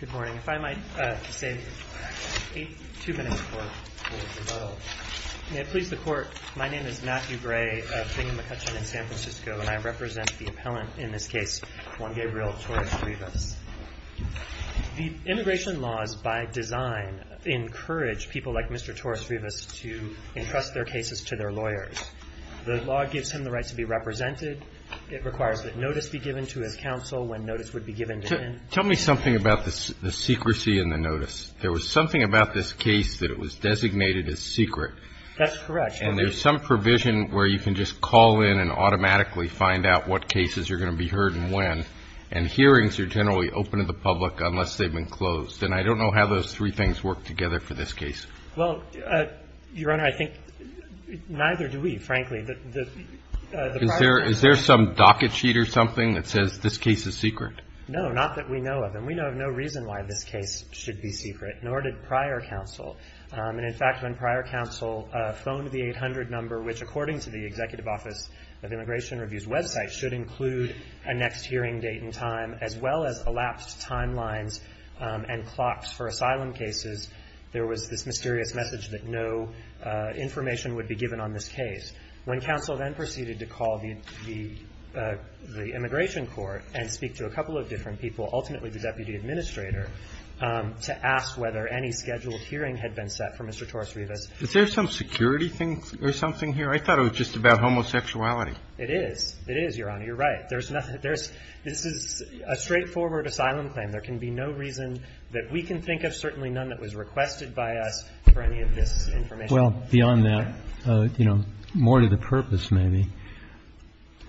Good morning. My name is Matthew Gray of Bingham McCutcheon in San Francisco and I represent the appellant in this case, Juan Gabriel Torres-Rivas. The immigration laws, by design, encourage people like Mr. Torres-Rivas to entrust their cases to their lawyers. The law gives him the right to be represented. It requires that the case be heard and when, and hearings are generally open to the public unless they've been closed. And I don't know how those three things work together for this case. Well, Your Honor, I think neither do we, frankly. Is there some docket sheet or something that says this case is secret? No, not that we know of. And we know of no reason why this case should be secret, nor did prior counsel. And, in fact, when prior counsel phoned the 800 number, which, according to the Executive Office of Immigration Review's website, should include a next hearing date and time, as well as elapsed timelines and clocks for asylum cases, there was this mysterious message that no information would be given on this case. When counsel then proceeded to call the immigration court and speak to a couple of different people, ultimately the deputy administrator, to ask whether any scheduled hearing had been set for Mr. Torres-Rivas. Is there some security thing or something here? I thought it was just about homosexuality. It is. It is, Your Honor. You're right. There's nothing. This is a straightforward asylum claim. There can be no reason that we can think of, certainly none that was requested by us, for any of this information. Well, beyond that, you know, more to the purpose, maybe.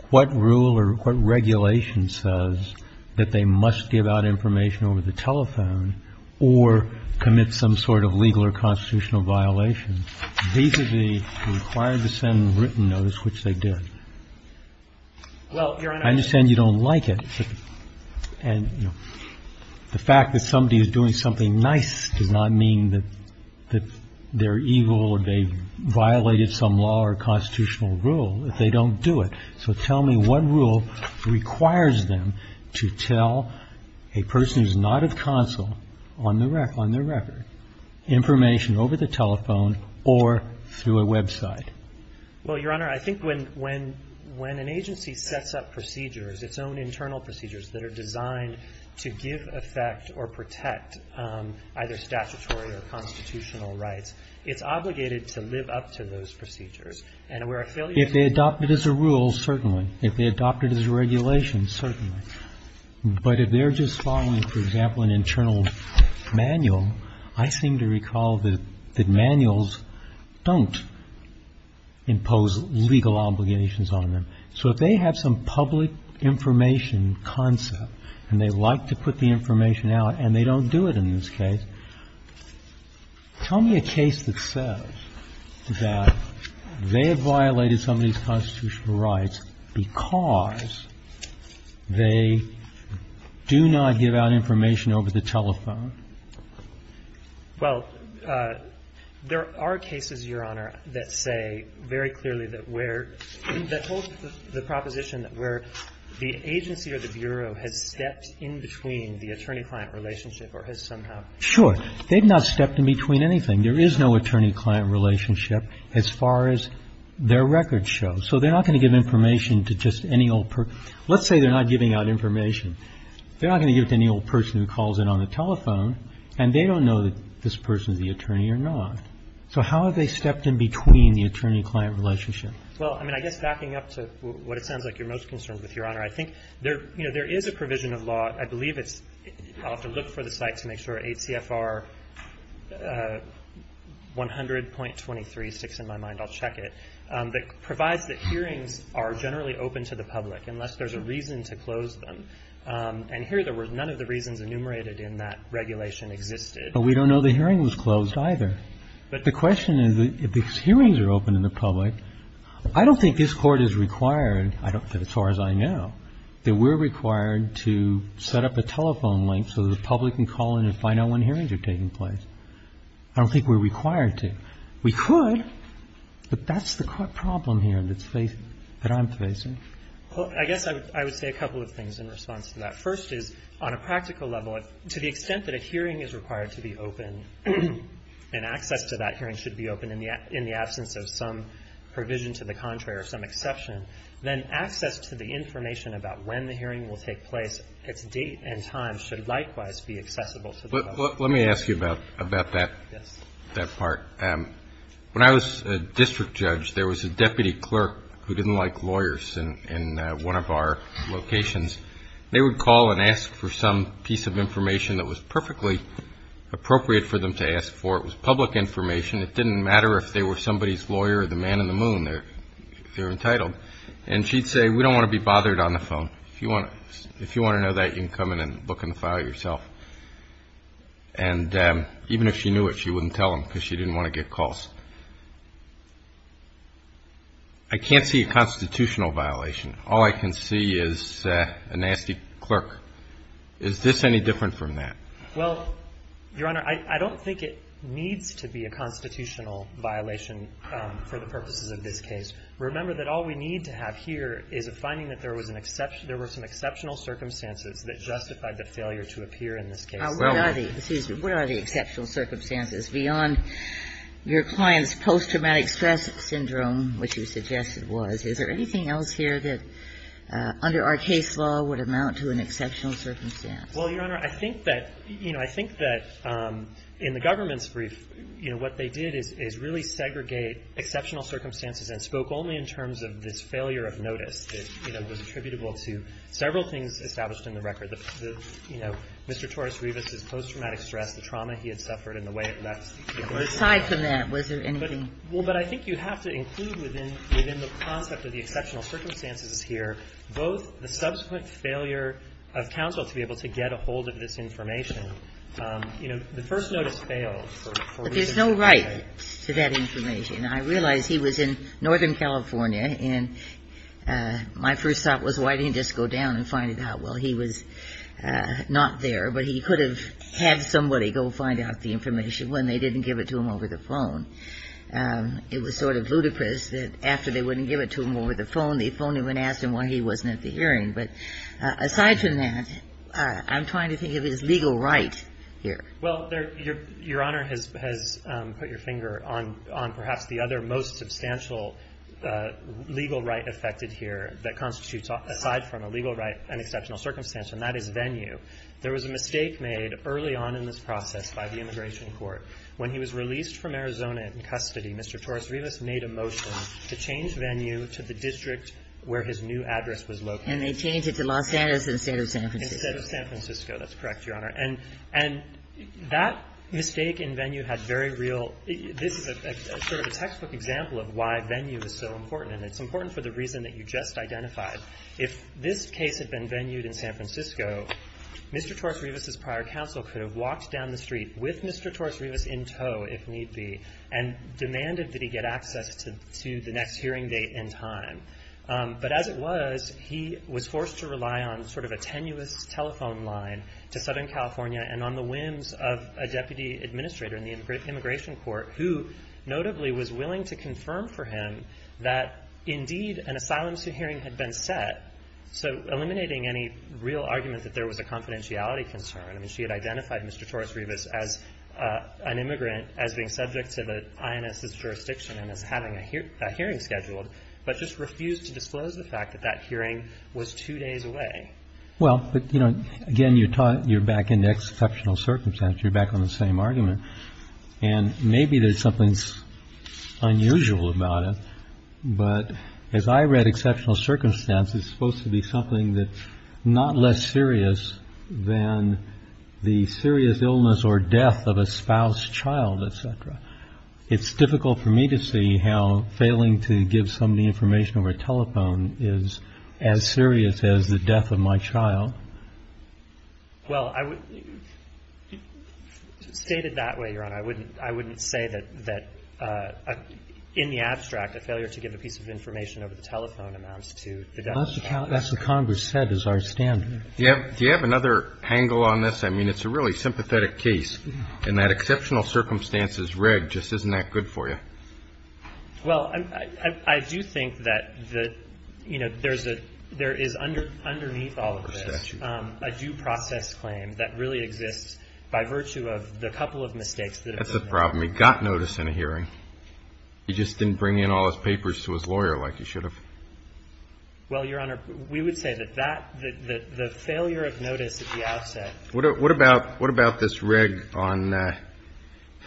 What rule or what regulation says that they must give out information over the telephone or commit some sort of legal or constitutional violation? These are the required to send written notice, which they did. Well, Your Honor. I understand you don't like it. And the fact that somebody is doing something nice does not mean that they're evil or they violated some law or constitutional rule if they don't do it. So tell me what rule requires them to tell a person who's not a counsel, on their record, information over the telephone or through a website? Well, Your Honor, I think when an agency sets up procedures, its own internal procedures that are designed to give effect or protect either statutory or constitutional rights, it's obligated to live up to those procedures. If they adopt it as a rule, certainly. If they adopt it as a regulation, certainly. But if they're just following, for example, an internal manual, I seem to recall that manuals don't impose legal obligations on them. So if they have some public information concept and they like to put the information out and they don't do it in this case, tell me a case that says that they have violated some of these constitutional rights because they do not give out information over the telephone. Well, there are cases, Your Honor, that say very clearly that where the proposition that where the agency or the bureau has stepped in between the attorney-client relationship or has somehow. Sure. They've not stepped in between anything. There is no attorney-client relationship as far as their records show. So they're not going to give information to just any old person. Let's say they're not giving out information. They're not going to give it to any old person who calls in on the telephone and they don't know that this person is the attorney or not. So how have they stepped in between the attorney-client relationship? Well, I mean, I guess backing up to what it sounds like you're most concerned with, Your Honor, I think there, you know, there is a provision of law. I believe it's – I'll have to look for the site to make sure. ACFR 100.23 sticks in my mind. I'll check it. That provides that hearings are generally open to the public unless there's a reason to close them. And here there were none of the reasons enumerated in that regulation existed. But we don't know the hearing was closed either. But the question is, if these hearings are open to the public, I don't think this Court is required, as far as I know, that we're required to set up a telephone link so the public can call in and find out when hearings are taking place. I don't think we're required to. We could, but that's the problem here that's facing – that I'm facing. Well, I guess I would say a couple of things in response to that. First is, on a practical level, to the extent that a hearing is required to be open and access to that hearing should be open in the absence of some provision to the contrary or some exception, then access to the information about when the hearing will take place, its date and time, should likewise be accessible to the public. Let me ask you about that part. When I was a district judge, there was a deputy clerk who didn't like lawyers in one of our locations. They would call and ask for some piece of information that was perfectly appropriate for them to ask for. It was public information. It didn't matter if they were somebody's lawyer or the man in the moon. They're entitled. And she'd say, we don't want to be bothered on the phone. If you want to know that, you can come in and look in the file yourself. And even if she knew it, she wouldn't tell them because she didn't want to get calls. I can't see a constitutional violation. All I can see is a nasty clerk. Is this any different from that? Well, Your Honor, I don't think it needs to be a constitutional violation for the purposes of this case. Remember that all we need to have here is a finding that there was an exception – there were some exceptional circumstances that justified the failure to appear in this case. Now, what are the – excuse me. What are the exceptional circumstances beyond your client's post-traumatic stress syndrome, which you suggested was? Is there anything else here that under our case law would amount to an exceptional circumstance? Well, Your Honor, I think that, you know, I think that in the government's brief, you know, what they did is really segregate exceptional circumstances and spoke only in terms of this failure of notice that, you know, was attributable to several things established in the record. The, you know, Mr. Torres-Rivas' post-traumatic stress, the trauma he had suffered and the way it left him. Well, aside from that, was there anything? Well, but I think you have to include within the concept of the exceptional circumstances here both the subsequent failure of counsel to be able to get a hold of this information. You know, the first notice failed. But there's no right to that information. I realize he was in Northern California, and my first thought was why didn't he just go down and find it out? Well, he was not there, but he could have had somebody go find out the information when they didn't give it to him over the phone. It was sort of ludicrous that after they wouldn't give it to him over the phone, they phoned him and asked him why he wasn't at the hearing. But aside from that, I'm trying to think of his legal right here. Well, Your Honor has put your finger on perhaps the other most substantial legal right affected here that constitutes aside from a legal right an exceptional circumstance, and that is Venue. There was a mistake made early on in this process by the immigration court. When he was released from Arizona in custody, Mr. Torres-Rivas made a motion to change Venue to the district where his new address was located. And they changed it to Los Angeles instead of San Francisco. Instead of San Francisco. That's correct, Your Honor. And that mistake in Venue had very real – this is sort of a textbook example of why Venue is so important, and it's important for the reason that you just identified. If this case had been Venued in San Francisco, Mr. Torres-Rivas' prior counsel could have walked down the street with Mr. Torres-Rivas in tow if need be and demanded that he get access to the next hearing date and time. But as it was, he was forced to rely on sort of a tenuous telephone line to Southern California and on the whims of a deputy administrator in the immigration court who notably was willing to confirm for him that indeed an asylum suit hearing had been set, so eliminating any real argument that there was a confidentiality concern. I mean, she had identified Mr. Torres-Rivas as an immigrant, as being subject to the INS's jurisdiction and as having a hearing scheduled, but just refused to disclose the fact that that hearing was two days away. Well, but, you know, again, you're back in the exceptional circumstance. You're back on the same argument. And maybe there's something unusual about it. But as I read exceptional circumstance, it's supposed to be something that's not less serious than the serious illness or death of a spouse, child, et cetera. It's difficult for me to see how failing to give somebody information over a telephone is as serious as the death of my child. Well, I would — state it that way, Your Honor. I wouldn't say that in the abstract, a failure to give a piece of information over the telephone amounts to the death of a spouse. That's what Congress said is our standard. Do you have another angle on this? I mean, it's a really sympathetic case, and that exceptional circumstances rig just isn't that good for you. Well, I do think that, you know, there is underneath all of this a due process claim that really exists by virtue of the couple of mistakes that have been made. That's the problem. He got notice in a hearing. He just didn't bring in all his papers to his lawyer like he should have. Well, Your Honor, we would say that the failure of notice at the outset — What about this rig on that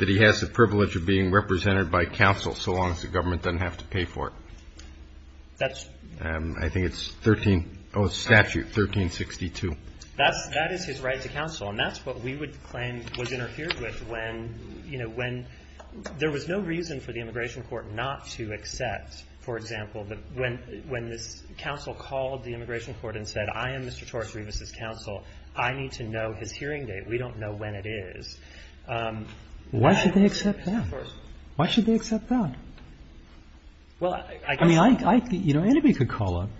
he has the privilege of being represented by counsel so long as the government doesn't have to pay for it? That's — I think it's 13 — oh, it's statute 1362. That is his right to counsel, and that's what we would claim was interfered with when, you know, when there was no reason for the immigration court not to accept, for example, that when this counsel called the immigration court and said, I am Mr. Torres-Rivas' counsel. I need to know his hearing date. We don't know when it is. Why should they accept that? Of course. Why should they accept that? Well, I guess — I mean, I — you know, anybody could call up.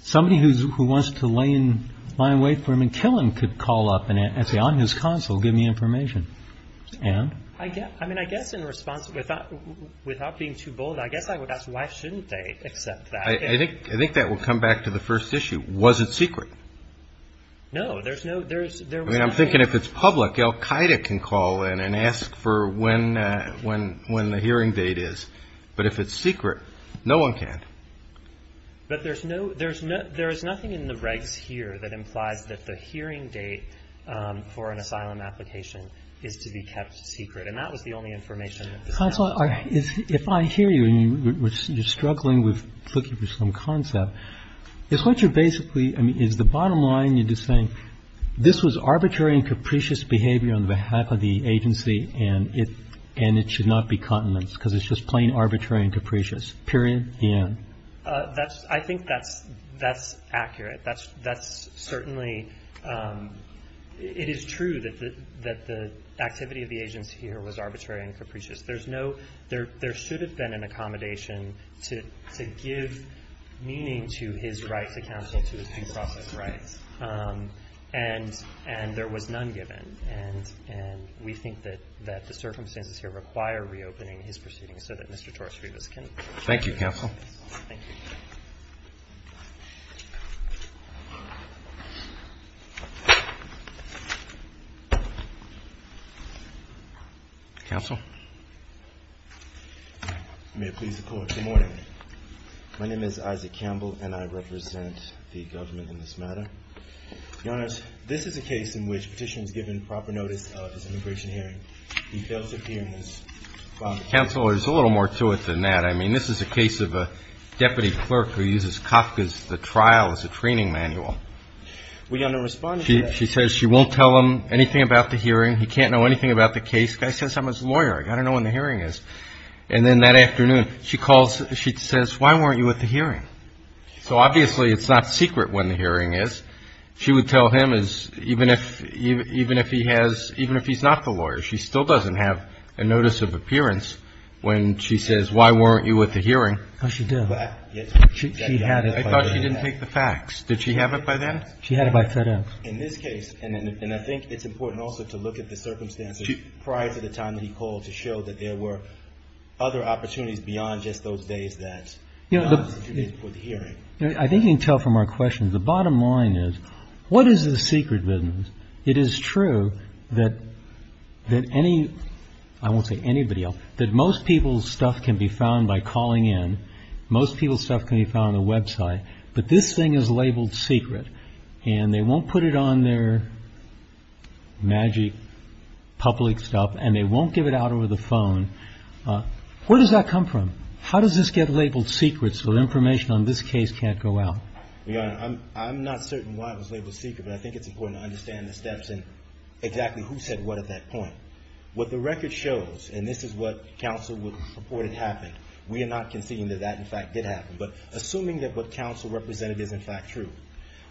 Somebody who wants to lay in — find a way for him and kill him could call up and say, I'm his counsel. Give me information. And? I guess — I mean, I guess in response, without being too bold, I guess I would ask why shouldn't they accept that? I think that will come back to the first issue. Was it secret? No. There's no — there's — I mean, I'm thinking if it's public, Al-Qaeda can call in and ask for when — when the hearing date is. But if it's secret, no one can. But there's no — there's nothing in the regs here that implies that the hearing date for an asylum application is to be kept secret. And that was the only information that — Counsel, if I hear you and you're struggling with looking for some concept, is what you're basically — I mean, is the bottom line, you're just saying this was arbitrary and capricious behavior on behalf of the agency and it — and it should not be continence because it's just plain arbitrary and capricious, period, the end? That's — I think that's — that's accurate. That's — that's certainly — it is true that the — that the activity of the agency here was arbitrary and capricious. There's no — there should have been an accommodation to give meaning to his rights accountable to his due process rights. And there was none given. And we think that the circumstances here require reopening his proceedings so that Mr. Torres-Rivas can — Thank you, counsel. Thank you. Counsel? May it please the Court. Good morning. My name is Isaac Campbell and I represent the government in this matter. Your Honor, this is a case in which the petitioner is given proper notice of his immigration hearing. He fails to appear in this file. Counsel, there's a little more to it than that. I mean, this is a case of a deputy clerk who uses Kafka's — the trial as a training manual. Your Honor, respond to that. She says she won't tell him anything about the hearing. He can't know anything about the case. The guy says, I'm his lawyer. I've got to know when the hearing is. And then that afternoon, she calls — she says, why weren't you at the hearing? So obviously it's not secret when the hearing is. She would tell him as even if — even if he has — even if he's not the lawyer. She still doesn't have a notice of appearance when she says, why weren't you at the hearing? Oh, she did. I thought she didn't take the facts. Did she have it by then? She had it by set-up. In this case, and I think it's important also to look at the circumstances prior to the time that he called to show that there were other opportunities beyond just those days that — I think you can tell from our questions, the bottom line is, what is the secret business? It is true that any — I won't say anybody else — that most people's stuff can be found by calling in. Most people's stuff can be found on the website. But this thing is labeled secret, and they won't put it on their magic public stuff, and they won't give it out over the phone. Where does that come from? How does this get labeled secret so that information on this case can't go out? Your Honor, I'm not certain why it was labeled secret, but I think it's important to understand the steps and exactly who said what at that point. What the record shows, and this is what counsel would report had happened. We are not conceding that that, in fact, did happen. But assuming that what counsel represented is, in fact, true,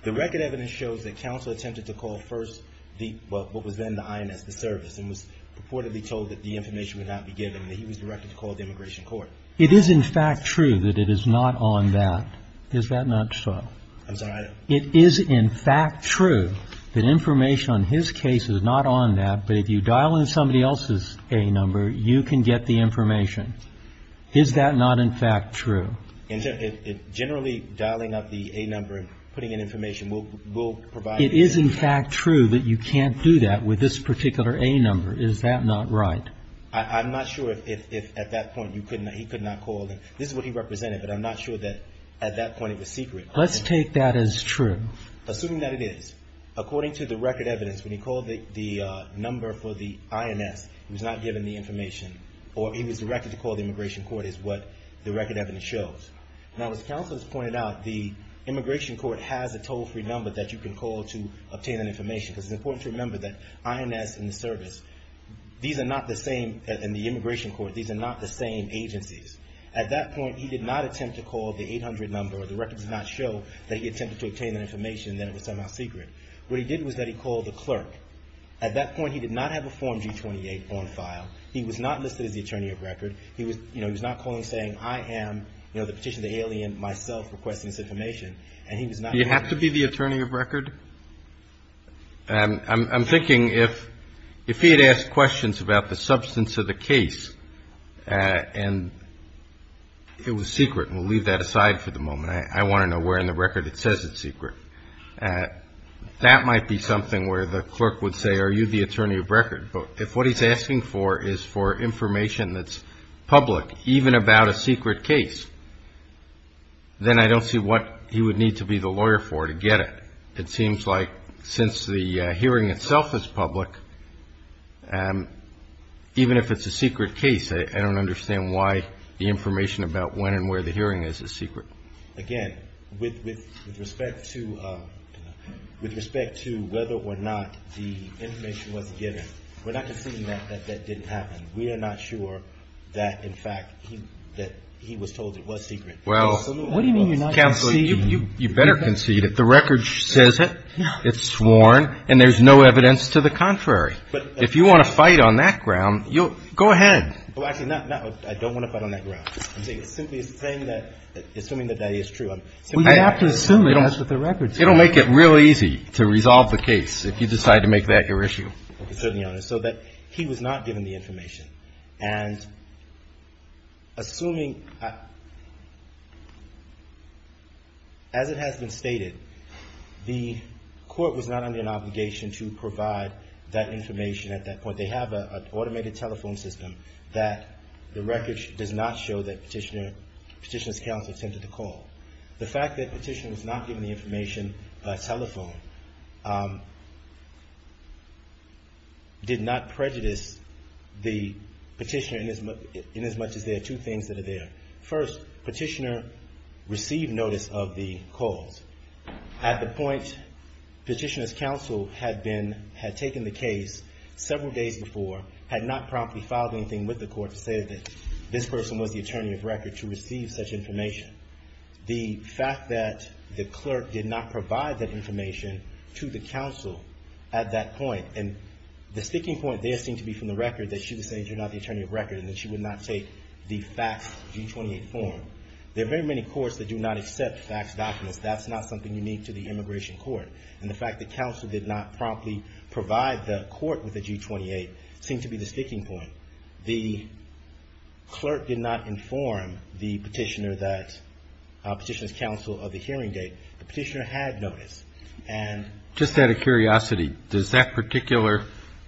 the record evidence shows that counsel attempted to call first the — well, what was then the INS, the service, and was purportedly told that the information would not be given, and that he was directed to call the immigration court. It is, in fact, true that it is not on that. Is that not so? I'm sorry? It is, in fact, true that information on his case is not on that, but if you dial in somebody else's A number, you can get the information. Is that not, in fact, true? Generally, dialing up the A number and putting in information will provide — It is, in fact, true that you can't do that with this particular A number. Is that not right? I'm not sure if, at that point, he could not call. This is what he represented, but I'm not sure that, at that point, it was secret. Let's take that as true. Assuming that it is, according to the record evidence, when he called the number for the INS, he was not given the information, or he was directed to call the immigration court, is what the record evidence shows. Now, as counsel has pointed out, the immigration court has a toll-free number that you can call to obtain that information, because it's important to remember that INS and the service, these are not the same — and the immigration court, these are not the same agencies. At that point, he did not attempt to call the 800 number, or the record does not show that he attempted to obtain that information, that it was somehow secret. What he did was that he called the clerk. At that point, he did not have a Form G28 on file. He was not listed as the attorney of record. He was, you know, he was not calling, saying, I am, you know, the petitioner, the alien, myself, requesting this information. And he was not — Do you have to be the attorney of record? And I'm thinking if he had asked questions about the substance of the case, and it was secret, and we'll leave that aside for the moment. I want to know where in the record it says it's secret. That might be something where the clerk would say, are you the attorney of record? But if what he's asking for is for information that's public, even about a secret case, then I don't see what he would need to be the lawyer for to get it. It seems like since the hearing itself is public, even if it's a secret case, I don't understand why the information about when and where the hearing is is secret. Again, with respect to whether or not the information was given, we're not conceding that that didn't happen. We are not sure that, in fact, that he was told it was secret. Well, counsel, you better concede. If the record says it, it's sworn, and there's no evidence to the contrary. If you want to fight on that ground, you'll go ahead. Well, actually, I don't want to fight on that ground. I'm simply saying that, assuming that that is true. Well, you have to assume it has to do with the record. It will make it real easy to resolve the case if you decide to make that your issue. So that he was not given the information. And assuming, as it has been stated, the court was not under an obligation to provide that information at that point. They have an automated telephone system that the record does not show that Petitioner's counsel attempted to call. The fact that Petitioner was not given the information by telephone did not prejudice the Petitioner in as much as there are two things that are there. First, Petitioner received notice of the calls. At the point Petitioner's counsel had taken the case several days before, had not promptly filed anything with the court to say that this person was the attorney of record to receive such information. The fact that the clerk did not provide that information to the counsel at that point. And the sticking point there seemed to be from the record that she would say that you're not the attorney of record. And that she would not take the FACTS G28 form. There are very many courts that do not accept FACTS documents. That's not something unique to the immigration court. And the fact that counsel did not promptly provide the court with the G28 seemed to be the sticking point. The clerk did not inform the Petitioner that Petitioner's counsel of the hearing date. The Petitioner had notice. And ---- Just out of curiosity, does that particular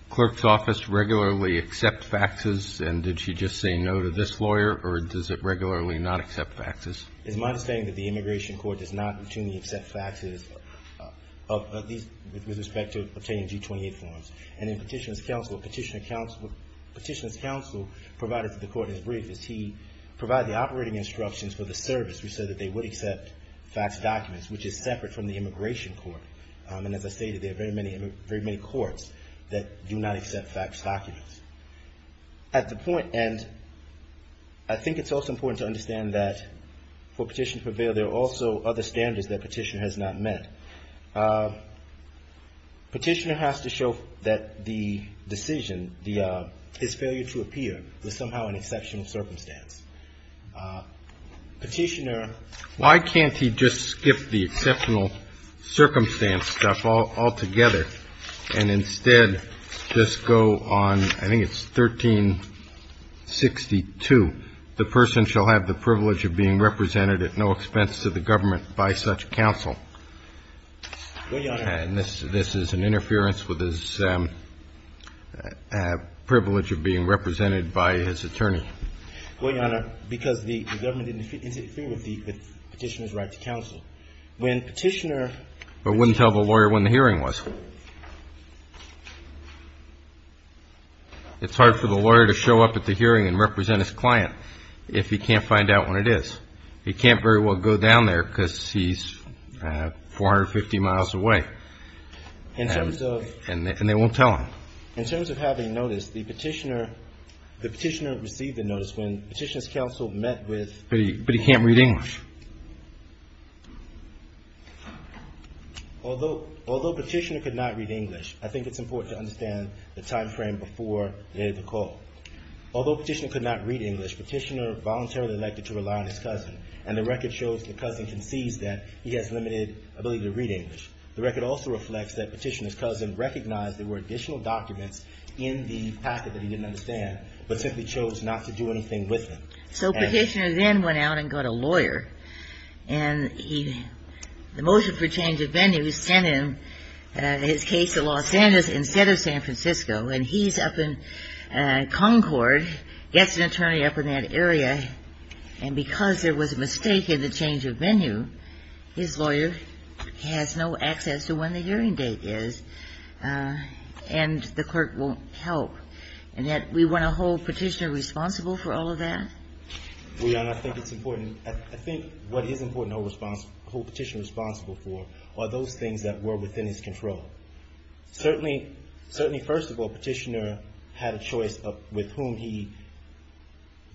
clerk's office regularly accept FACTSs? And did she just say no to this lawyer? Or does it regularly not accept FACTSs? It's my understanding that the immigration court does not routinely accept FACTSs with respect to obtaining G28 forms. And in Petitioner's counsel, Petitioner's counsel provided to the court as brief as he provided the operating instructions for the service. We said that they would accept FACTS documents, which is separate from the immigration court. And as I stated, there are very many courts that do not accept FACTS documents. At the point end, I think it's also important to understand that for Petitioner to prevail, there are also other standards that Petitioner has not met. Petitioner has to show that the decision, his failure to appear, was somehow an exceptional circumstance. Petitioner ---- Why can't he just skip the exceptional circumstance stuff altogether and instead just go on, I think it's 1362, the person shall have the privilege of being represented at no expense to the government by such counsel? Well, Your Honor ---- And this is an interference with his privilege of being represented by his attorney. Well, Your Honor, because the government didn't interfere with the Petitioner's right to counsel. When Petitioner ---- But wouldn't tell the lawyer when the hearing was. It's hard for the lawyer to show up at the hearing and represent his client if he can't find out when it is. He can't very well go down there because he's 450 miles away. In terms of ---- And they won't tell him. In terms of having notice, the Petitioner received the notice when Petitioner's counsel met with ---- But he can't read English. Although Petitioner could not read English, I think it's important to understand the timeframe before the call. Although Petitioner could not read English, Petitioner voluntarily elected to rely on his cousin. And the record shows the cousin concedes that he has limited ability to read English. The record also reflects that Petitioner's cousin recognized there were additional documents in the packet that he didn't understand, but simply chose not to do anything with them. So Petitioner then went out and got a lawyer, and he ---- the motion for change of venue sent him his case at Los Angeles instead of San Francisco. And he's up in Concord, gets an attorney up in that area, and because there was a mistake in the change of venue, his lawyer has no access to when the hearing date is, and the clerk won't help. And yet we want to hold Petitioner responsible for all of that? Well, Your Honor, I think it's important. I think what is important to hold Petitioner responsible for are those things that were within his control. Certainly, first of all, Petitioner had a choice with whom he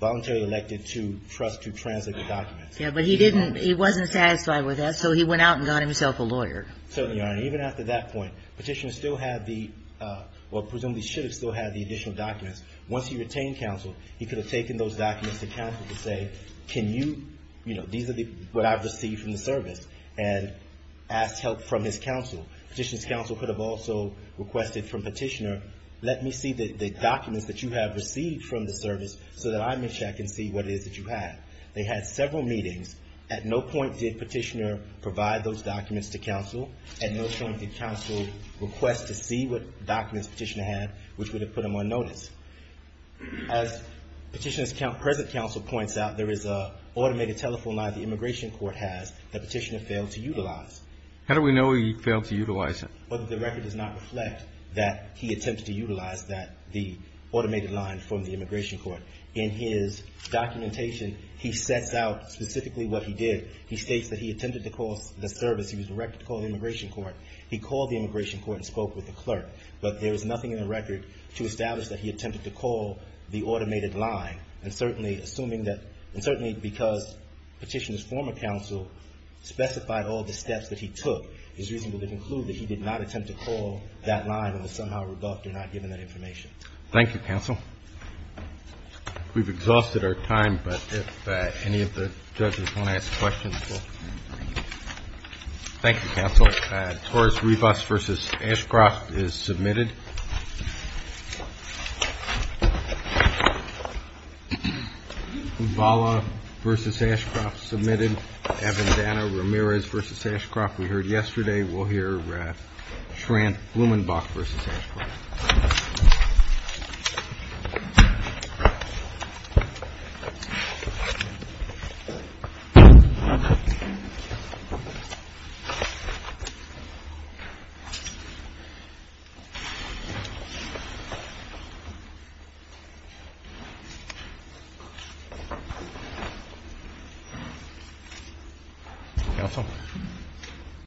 voluntarily elected to trust to translate the documents. Yes, but he didn't ---- he wasn't satisfied with that, so he went out and got himself a lawyer. Certainly, Your Honor. Even after that point, Petitioner still had the ---- well, presumably should have still had the additional documents. Once he retained counsel, he could have taken those documents to counsel to say, can you ---- you know, these are the ---- what I've received from the service, and asked help from his counsel. Petitioner's counsel could have also requested from Petitioner, let me see the documents that you have received from the service so that I may check and see what it is that you have. They had several meetings. At no point did Petitioner provide those documents to counsel. At no point did counsel request to see what documents Petitioner had, which would have put him on notice. As Petitioner's present counsel points out, there is an automated telephone line the Immigration Court has that Petitioner failed to utilize. How do we know he failed to utilize it? Well, the record does not reflect that he attempts to utilize that, the automated line from the Immigration Court. In his documentation, he sets out specifically what he did. He states that he attempted to call the service. He was directed to call the Immigration Court. He called the Immigration Court and spoke with the clerk. But there is nothing in the record to establish that he attempted to call the automated line. And certainly assuming that ---- and certainly because Petitioner's former counsel specified all the steps that he took, it's reasonable to conclude that he did not attempt to call that line and was somehow rebuffed or not given that information. Thank you, counsel. We've exhausted our time, but if any of the judges want to ask questions, we'll. Thank you, counsel. Torres-Rivas v. Ashcroft is submitted. Ubala v. Ashcroft submitted. Avendana-Ramirez v. Ashcroft, we heard yesterday. We'll hear Schranth-Blumenbach v. Ashcroft. Thank you.